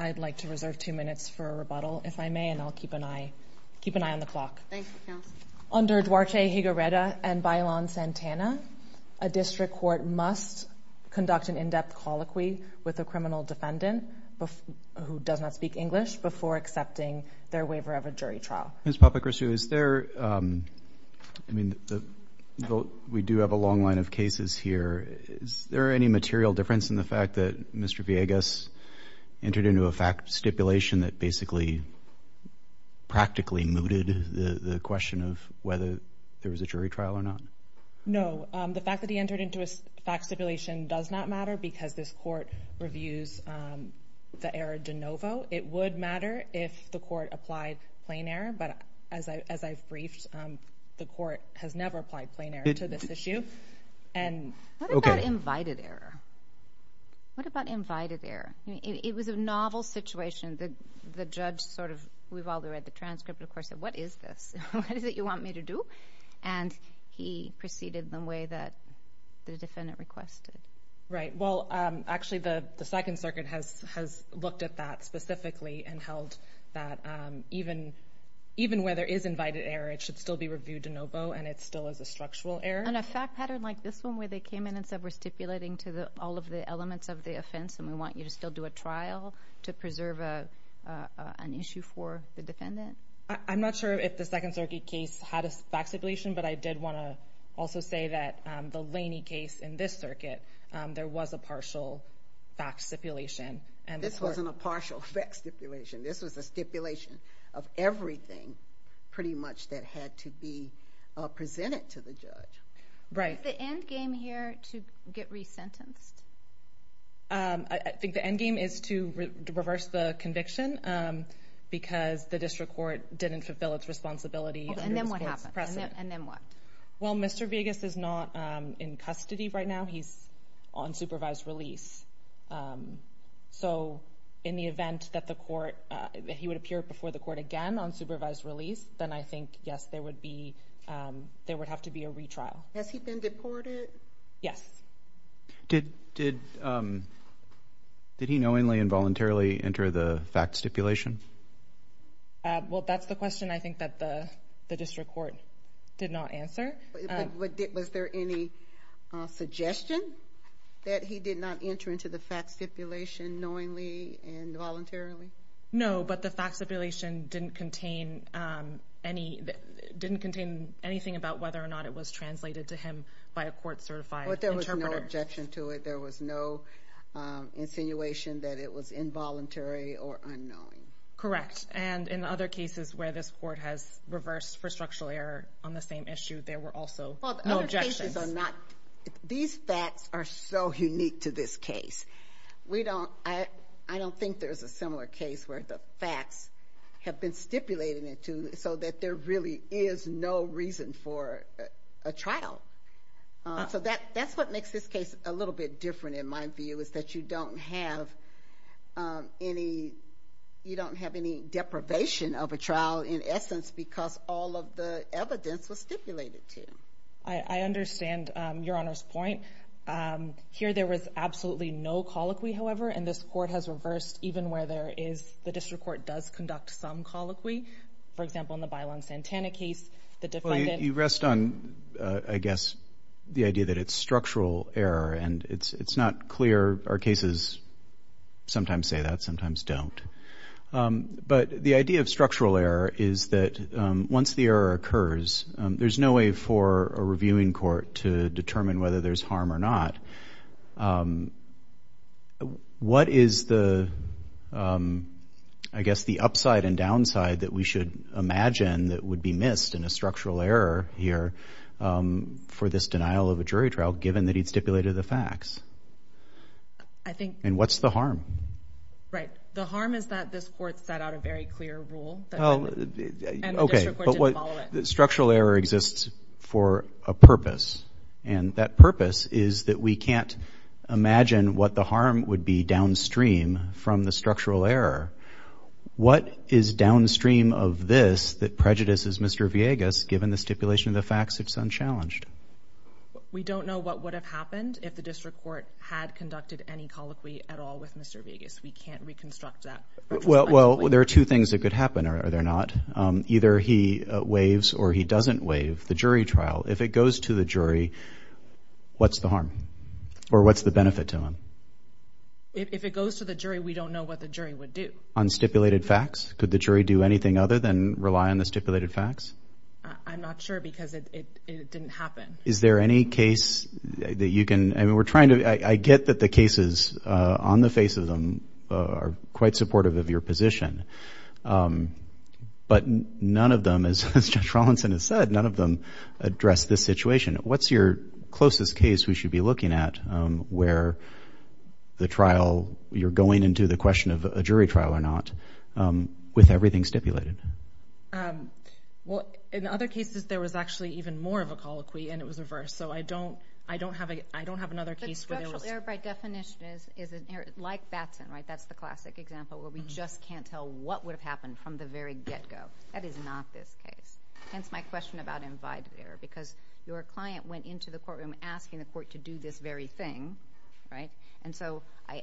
I'd like to reserve two minutes for a rebuttal, if I may, and I'll keep an eye on the clock. Under Duarte Higuereta and Bailon-Santana, a district court must conduct an in-depth colloquy with a criminal defendant who does not speak English before accepting their waiver of a jury trial. Ms. Papachristou, we do have a long line of cases here. Is there any material difference in the fact that Mr. Villegas entered into a fact stipulation that basically practically mooted the question of whether there was a jury trial or not? No. The fact that he entered into a fact stipulation does not matter because this court reviews the error de novo. It would matter if the court applied plain error, but as I've briefed, the court has never applied plain error to this issue. What about invited error? What about invited error? It was a novel situation. The judge sort of, we've all read the transcript, of course, said, what is this? What is it you want me to do? And he proceeded in the way that the defendant requested. Right. Well, actually, the Second Circuit has looked at that specifically and held that even where there is invited error, it should still be reviewed de novo and it still is a structural error. And a fact pattern like this one where they came in and said we're stipulating to all of the elements of the offense and we want you to still do a trial to preserve an issue for the defendant? I'm not sure if the Second Circuit case had a fact stipulation, but I did want to also say that the Laney case in this circuit, there was a partial fact stipulation. This wasn't a partial fact stipulation. This was a stipulation of everything, pretty much, that had to be presented to the judge. Right. Is the end game here to get resentenced? I think the end game is to reverse the conviction because the district court didn't fulfill its responsibility. And then what happened? And then what? Well, Mr. Vegas is not in custody right now. He's on supervised release. So in the event that the court, that he would appear before the court again on supervised release, then I think, yes, there would be, there would have to be a retrial. Has he been deported? Yes. Did, did, did he knowingly and voluntarily enter the fact stipulation? Well, that's the question I think that the district court did not answer. Was there any suggestion that he did not enter into the fact stipulation knowingly and voluntarily? No, but the fact stipulation didn't contain any, didn't contain anything about whether or not it was translated to him by a court certified interpreter. But there was no objection to it. There was no insinuation that it was involuntary or unknowing. And in other cases where this court has reversed for structural error on the same issue, there were also no objections. Well, the other cases are not, these facts are so unique to this case. We don't, I don't think there's a similar case where the facts have been stipulated into so that there really is no reason for a trial. So that, that's what makes this case a little bit different in my view is that you don't have any, you don't have any deprivation of a trial in essence because all of the evidence was stipulated to. I understand Your Honor's point. Here there was absolutely no colloquy, however, and this court has reversed even where there is, the district court does conduct some colloquy. For example, in the Bailon-Santana case, the defendant. You rest on, I guess, the idea that it's structural error and it's not clear. Our cases sometimes say that, sometimes don't. But the idea of structural error is that once the error occurs, there's no way for a reviewing court to determine whether there's harm or not. What is the, I guess, the upside and downside that we should imagine that would be missed in a structural error here for this denial of a jury trial given that he'd stipulated the facts? I think. And what's the harm? Right. The harm is that this court set out a very clear rule that the district court didn't follow it. Okay, but what, structural error exists for a purpose and that purpose is that we can't imagine what the harm would be downstream from the structural error. What is downstream of this that prejudices Mr. Villegas given the stipulation of the facts it's unchallenged? We don't know what would have happened if the district court had conducted any colloquy at all with Mr. Villegas. We can't reconstruct that. Well, there are two things that could happen, are there not? Either he waives or he doesn't waive the jury trial. If it goes to the jury, what's the harm? Or what's the benefit to him? If it goes to the jury, we don't know what the jury would do. On stipulated facts, could the jury do anything other than rely on the stipulated facts? I'm not sure because it didn't happen. Is there any case that you can, I mean, we're trying to, I get that the cases on the face of them are quite supportive of your position. But none of them, as Judge Rawlinson has said, none of them address this situation. What's your closest case we should be looking at where the trial, you're going into the question of a jury trial or not, with everything stipulated? Well, in other cases, there was actually even more of a colloquy and it was reversed. So I don't have another case where there was... But structural error, by definition, is an error, like Batson, right? That's the classic example where we just can't tell what would have happened from the very get-go. That is not this case. Hence my question about invited error, because your client went into the courtroom asking the court to do this very thing, right? And so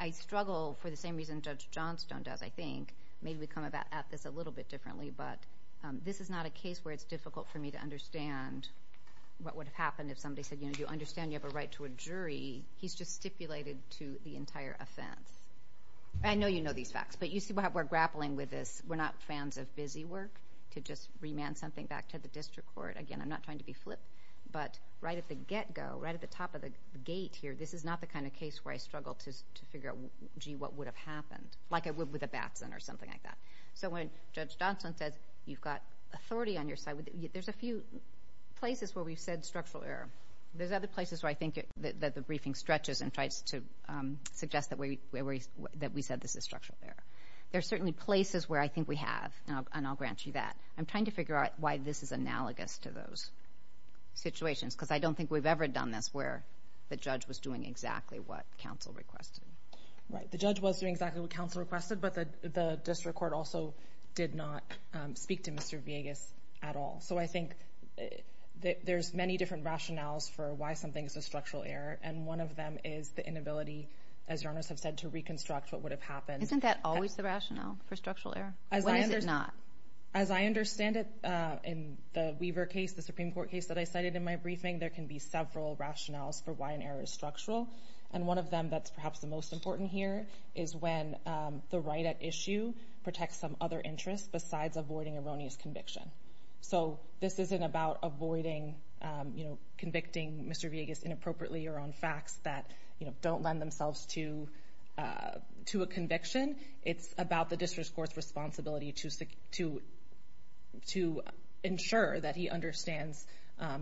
I struggle for the same reason Judge Johnstone does, I think. Maybe we come at this a little bit differently, but this is not a case where it's difficult for me to understand what would have happened if somebody said, you know, do you understand you have a right to a jury? He's just stipulated to the entire offense. I know you know these facts, but you see why we're grappling with this. We're not fans of busy work, to just remand something back to the district court. Again, I'm not trying to be flip, but right at the get-go, right at the top of the gate here, this is not the kind of case where I struggle to figure out, gee, what would have happened, like I would with a Batson or something like that. So when Judge Johnstone says you've got authority on your side, there's a few places where we've said structural error. There's other places where I think that the briefing stretches and tries to suggest that we said this is structural error. There's certainly places where I think we have, and I'll grant you that. I'm trying to figure out why this is analogous to those situations, because I don't think we've ever done this where the judge was doing exactly what counsel requested. Right. The judge was doing exactly what counsel requested, but the district court also did not speak to Mr. Villegas at all. So I think there's many different rationales for why something is a structural error, and one of them is the inability, as Your Honor has said, to reconstruct what would have happened. Isn't that always the rationale for structural error? When is it not? As I understand it, in the Weaver case, the Supreme Court case that I cited in my briefing, there can be several rationales for why an error is structural, and one of them that's perhaps the most important here is when the right at issue protects some other interest besides avoiding erroneous conviction. So this isn't about avoiding, you know, convicting Mr. Villegas inappropriately or on facts that, you know, don't lend themselves to a conviction. It's about the district court's responsibility to ensure that he understands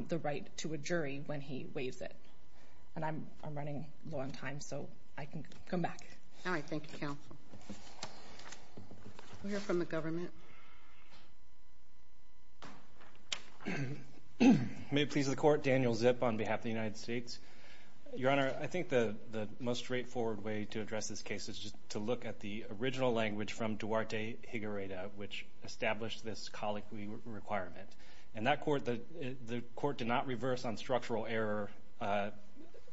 the right to a jury when he waives it, and I'm running low on time, so I can come back. All right. Thank you, counsel. We'll hear from the government. May it please the Court. Daniel Zip on behalf of the United States. Your Honor, I think the most straightforward way to address this case is just to look at the original language from Duarte Higuereta, which established this colloquy requirement, and that court, the court did not reverse on structural error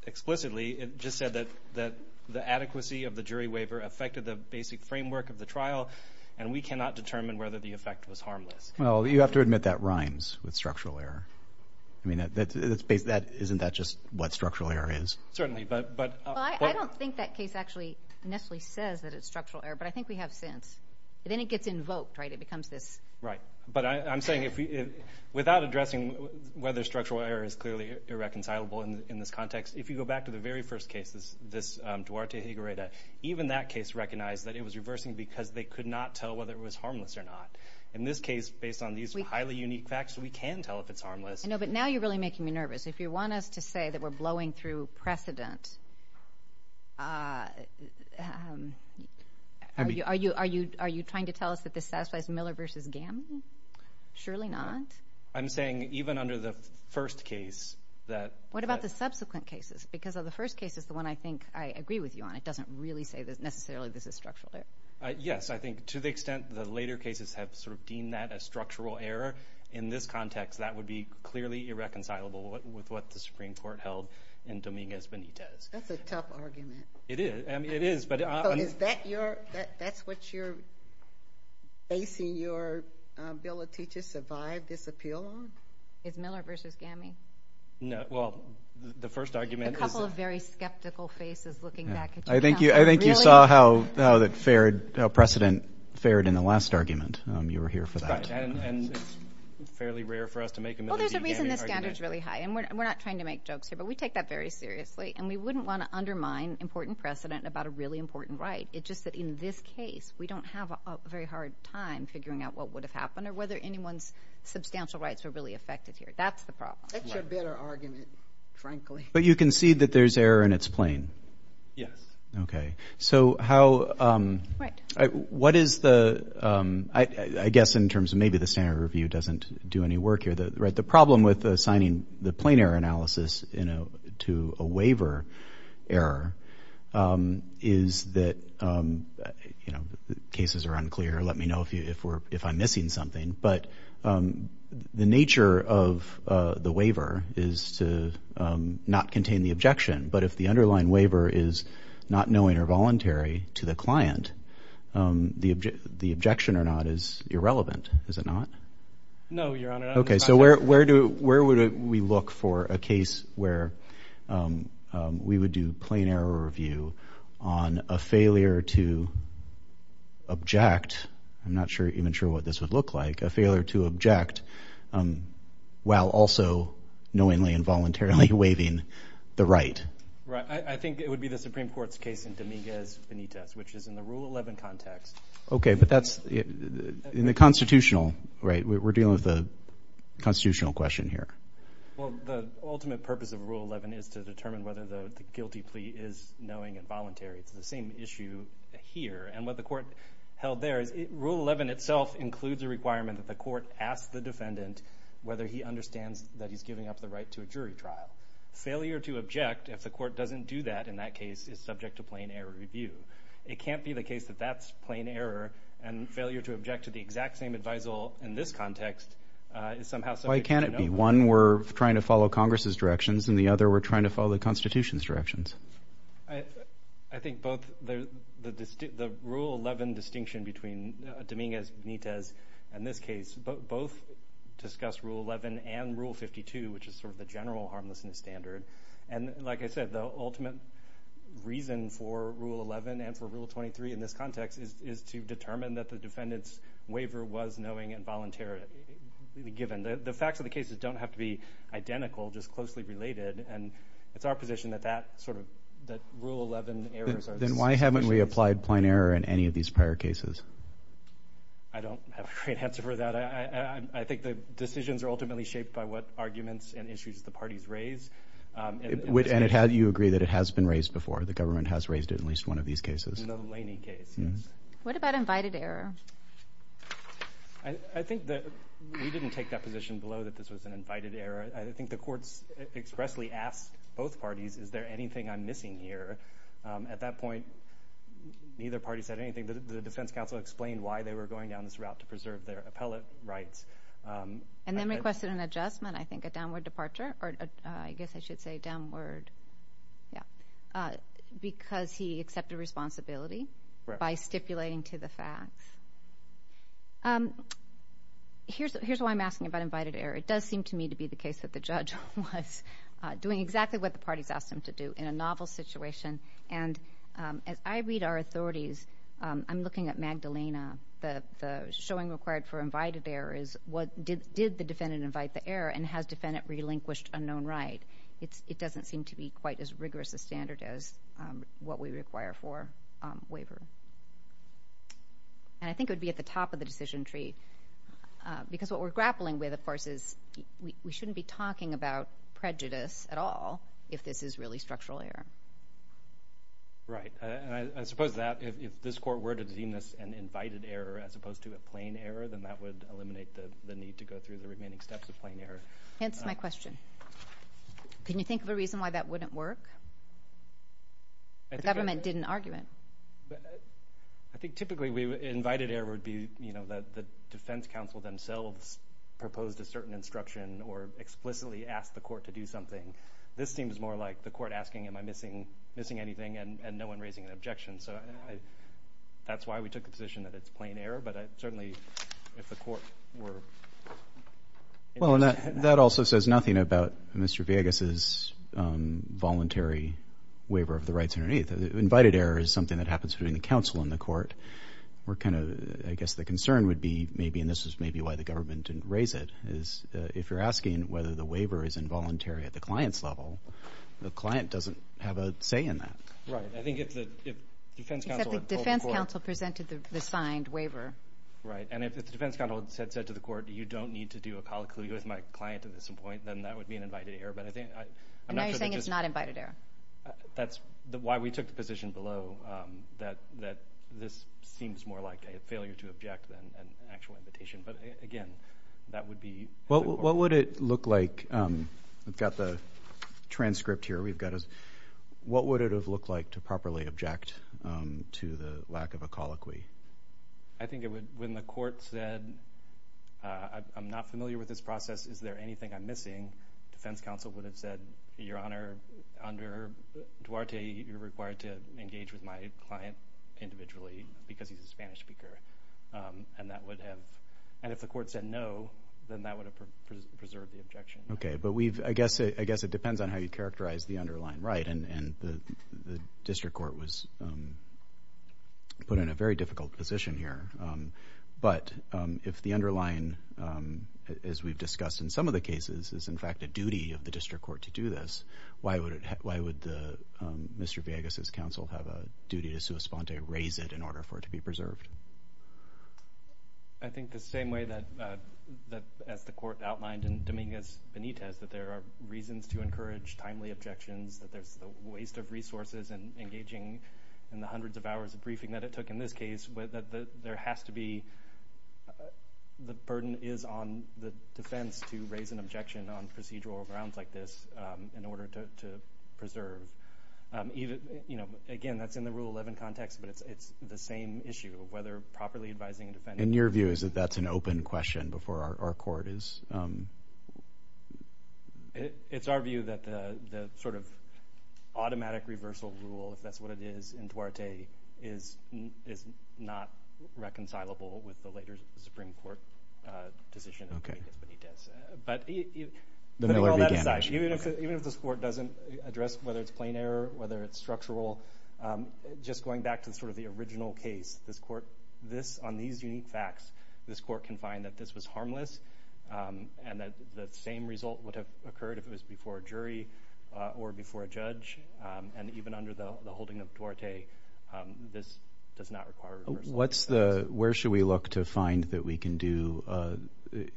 explicitly. It just said that the adequacy of the jury waiver affected the basic framework of the trial, and we cannot determine whether the effect was harmless. Well, you have to admit that rhymes with structural error. I mean, that's basically, isn't that just what structural error is? Certainly, but... Well, I don't think that case actually necessarily says that it's structural error, but I think we have sense. But then it gets invoked, right? It becomes this... Right. But I'm saying, without addressing whether structural error is clearly irreconcilable in this context, if you go back to the very first cases, this Duarte Higuereta, even that case recognized that it was reversing because they could not tell whether it was harmless or not. In this case, based on these highly unique facts, we can tell if it's harmless. I know, but now you're really making me nervous. If you want us to say that we're blowing through precedent, are you trying to tell us that this satisfies Miller v. Gamble? Surely not? I'm saying, even under the first case, that... What about the subsequent cases? Because of the first case is the one I think I agree with you on. It doesn't really say that necessarily this is structural error. Yes. I think to the extent the later cases have deemed that a structural error, in this context, that would be clearly irreconcilable with what the Supreme Court held in Dominguez Benitez. That's a tough argument. It is. I mean, it is. But I... So is that your... That's what you're basing your ability to survive this appeal on? Is Miller v. Gamble? No. Well, the first argument is... A couple of very skeptical faces looking back at you. I think you saw how precedent fared in the last argument. You were here for that. And it's fairly rare for us to make a Miller v. Gamble argument. Well, there's a reason this standard's really high. And we're not trying to make jokes here, but we take that very seriously. And we wouldn't want to undermine important precedent about a really important right. It's just that in this case, we don't have a very hard time figuring out what would have happened or whether anyone's substantial rights were really affected here. That's the problem. That's your better argument, frankly. But you concede that there's error in its plane? Yes. So how... Right. What is the... I guess in terms of maybe the standard review doesn't do any work here. The problem with assigning the plane error analysis to a waiver error is that cases are unclear. Let me know if I'm missing something. But the nature of the waiver is to not contain the objection. But if the underlying waiver is not knowing or voluntary to the client, the objection or not is irrelevant. Is it not? No, Your Honor. Okay. So where would we look for a case where we would do plane error review on a failure to object? I'm not even sure what this would look like, a failure to object while also knowingly and voluntarily. I think it would be the Supreme Court's case in Dominguez-Benitez, which is in the Rule 11 context. Okay. But that's in the constitutional, right? We're dealing with a constitutional question here. Well, the ultimate purpose of Rule 11 is to determine whether the guilty plea is knowing and voluntary. It's the same issue here. And what the court held there is Rule 11 itself includes a requirement that the court ask the defendant whether he understands that he's giving up the right to a jury trial. Now, failure to object, if the court doesn't do that in that case, is subject to plane error review. It can't be the case that that's plane error, and failure to object to the exact same advisal in this context is somehow subject to knowingly and voluntarily. Why can't it be? One, we're trying to follow Congress's directions, and the other, we're trying to follow the Constitution's directions. I think both the Rule 11 distinction between Dominguez-Benitez and this case, both discuss Rule 11 and Rule 52, which is sort of the general harmlessness standard. And like I said, the ultimate reason for Rule 11 and for Rule 23 in this context is to determine that the defendant's waiver was knowing and voluntary given. The facts of the cases don't have to be identical, just closely related, and it's our position that that sort of, that Rule 11 errors are the same. Then why haven't we applied plane error in any of these prior cases? I don't have a great answer for that. I think the decisions are ultimately shaped by what arguments and issues the parties raise. And you agree that it has been raised before, the government has raised it in at least one of these cases. In the Laney case, yes. What about invited error? I think that we didn't take that position below that this was an invited error. I think the courts expressly asked both parties, is there anything I'm missing here? At that point, neither party said anything. The defense counsel explained why they were going down this route to preserve their appellate rights. And then requested an adjustment, I think, a downward departure, or I guess I should say downward, yeah, because he accepted responsibility by stipulating to the facts. Here's why I'm asking about invited error. It does seem to me to be the case that the judge was doing exactly what the parties asked him to do in a novel situation. And as I read our authorities, I'm looking at Magdalena, the showing required for invited error is did the defendant invite the error, and has defendant relinquished unknown right? It doesn't seem to be quite as rigorous a standard as what we require for waiver. And I think it would be at the top of the decision tree, because what we're grappling with, of course, is we shouldn't be talking about prejudice at all if this is really structural error. Right. And I suppose that if this court were to deem this an invited error as opposed to a plain error, then that would eliminate the need to go through the remaining steps of plain error. It's my question. Can you think of a reason why that wouldn't work? The government didn't argue it. I think typically, invited error would be that the defense counsel themselves proposed a certain instruction or explicitly asked the court to do something. This seems more like the court asking, am I missing anything? And no one raising an objection. So that's why we took the position that it's plain error. But certainly, if the court were- Well, and that also says nothing about Mr. Villegas' voluntary waiver of the rights underneath. Invited error is something that happens between the counsel and the court, where I guess the concern would be maybe, and this is maybe why the government didn't raise it, is if you're asking whether the waiver is involuntary at the client's level, the client doesn't have a say in that. Right. I think if the defense counsel- Except the defense counsel presented the signed waiver. Right. And if the defense counsel had said to the court, you don't need to do a colloquy with my client at this point, then that would be an invited error. But I think- And now you're saying it's not invited error. That's why we took the position below that this seems more like a failure to object than an actual invitation. But again, that would be- What would it look like- We've got the transcript here. What would it have looked like to properly object to the lack of a colloquy? I think it would, when the court said, I'm not familiar with this process, is there anything I'm missing? The defense counsel would have said, Your Honor, under Duarte, you're required to engage with my client individually because he's a Spanish speaker, and that would have- And if the court said no, then that would have preserved the objection. Okay. But we've- I guess it depends on how you characterize the underlying right, and the district court was put in a very difficult position here. But if the underlying, as we've discussed in some of the cases, is in fact a duty of the district court to do this, why would Mr. Villegas' counsel have a duty to sua sponte, raise it in order for it to be preserved? I think the same way that, as the court outlined in Dominguez Benitez, that there are reasons to encourage timely objections, that there's a waste of resources in engaging in the hundreds of hours of briefing that it took in this case, that there has to be- The burden is on the defense to raise an objection on procedural grounds like this in order to preserve. Again, that's in the Rule 11 context, but it's the same issue of whether properly advising a defendant- And your view is that that's an open question before our court is- It's our view that the sort of automatic reversal rule, if that's what it is, in Duarte, is not reconcilable with the later Supreme Court decision in Dominguez Benitez. But you- The Miller v. Gammage. Even if this court doesn't address whether it's plain error, whether it's structural, just going back to sort of the original case, on these unique facts, this court can find that this was harmless and that the same result would have occurred if it was before a jury or before a judge. And even under the holding of Duarte, this does not require- Where should we look to find that we can do,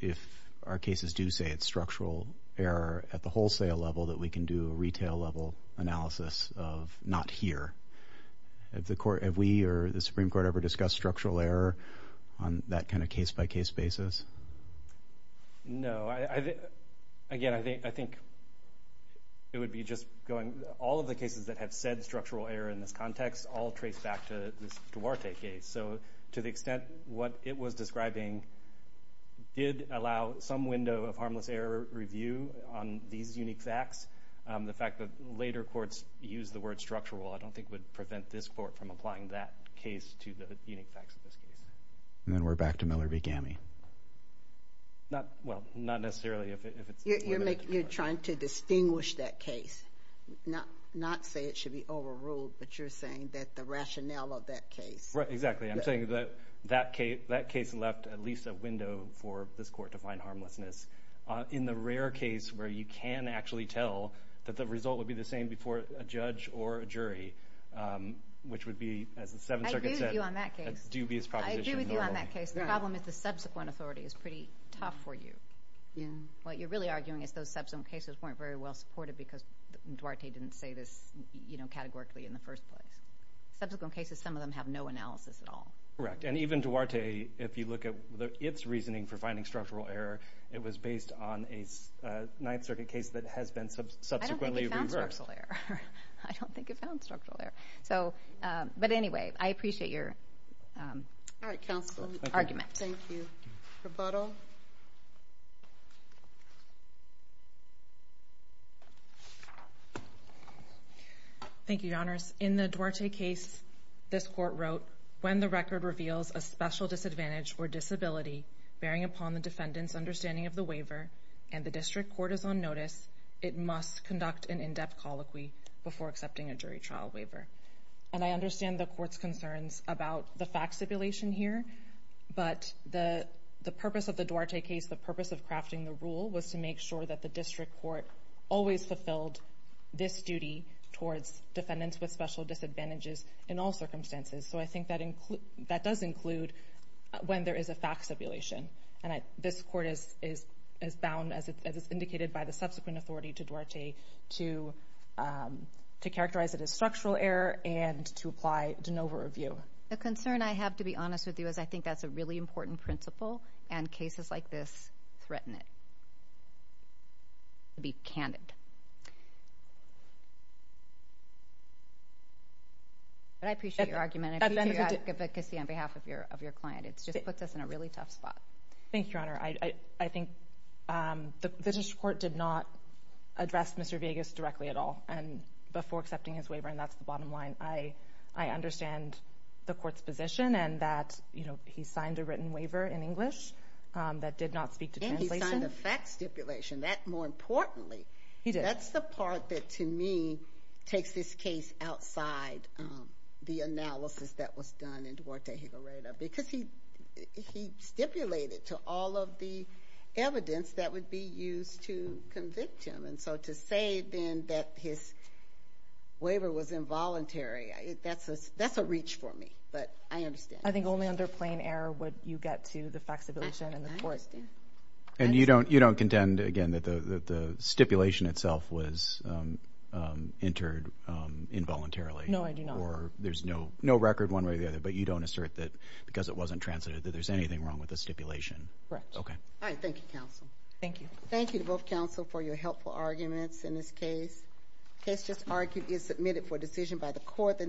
if our cases do say it's structural error at the wholesale level, that we can do a retail-level analysis of not here? Have we or the Supreme Court ever discussed structural error on that kind of case-by-case basis? No. Again, I think it would be just going- All of the cases that have said structural error in this context all trace back to this Duarte case. So to the extent what it was describing did allow some window of harmless error review on these unique facts, the fact that later courts used the word structural I don't think would prevent this court from applying that case to the unique facts of this case. And then we're back to Miller v. Gammage. Not- Well, not necessarily if it's- You're trying to distinguish that case, not say it should be overruled, but you're saying that the rationale of that case- Right. Exactly. I'm saying that that case left at least a window for this court to find harmlessness. In the rare case where you can actually tell that the result would be the same before a judge or a jury, which would be, as the Seventh Circuit said- I agree with you on that case. A dubious proposition. I agree with you on that case. The problem is the subsequent authority is pretty tough for you. What you're really arguing is those subsequent cases weren't very well supported because Duarte didn't say this categorically in the first place. Subsequent cases, some of them have no analysis at all. Correct. And even Duarte, if you look at its reasoning for finding structural error, it was based on a Ninth Circuit case that has been subsequently reversed. I don't think it found structural error. I don't think it found structural error. But anyway, I appreciate your- All right, counsel. Okay. Argument. Thank you. Rebuttal? Thank you, Your Honors. In the Duarte case, this court wrote, when the record reveals a special disadvantage or disability bearing upon the defendant's understanding of the waiver and the district court is on notice, it must conduct an in-depth colloquy before accepting a jury trial waiver. And I understand the court's concerns about the fact stipulation here, but the purpose of the Duarte case, the purpose of crafting the rule, was to make sure that the district court always fulfilled this duty towards defendants with special disadvantages in all circumstances. So I think that does include when there is a fact stipulation. And this court is bound, as is indicated by the subsequent authority to Duarte, to characterize it as structural error and to apply de novo review. The concern I have, to be honest with you, is I think that's a really important principle and cases like this threaten it. To be candid. But I appreciate your argument. I appreciate your advocacy on behalf of your client. It just puts us in a really tough spot. Thank you, Your Honor. I think the district court did not address Mr. Vegas directly at all. And before accepting his waiver, and that's the bottom line, I understand the court's position and that he signed a written waiver in English that did not speak to translation. And he signed a fact stipulation. More importantly, that's the part that, to me, takes this case outside the analysis that was done in Duarte-Gilareda. Because he stipulated to all of the evidence that would be used to convict him. And so to say then that his waiver was involuntary, that's a reach for me. But I understand. I think only under plain error would you get to the fact stipulation. And you don't contend, again, that the stipulation itself was entered involuntarily? No, I do not. Or there's no record one way or the other, but you don't assert that because it wasn't translated that there's anything wrong with the stipulation? Correct. Okay. All right. Thank you, counsel. Thank you. Thank you to both counsel for your helpful arguments in this case. The case just argued is submitted for decision by the court.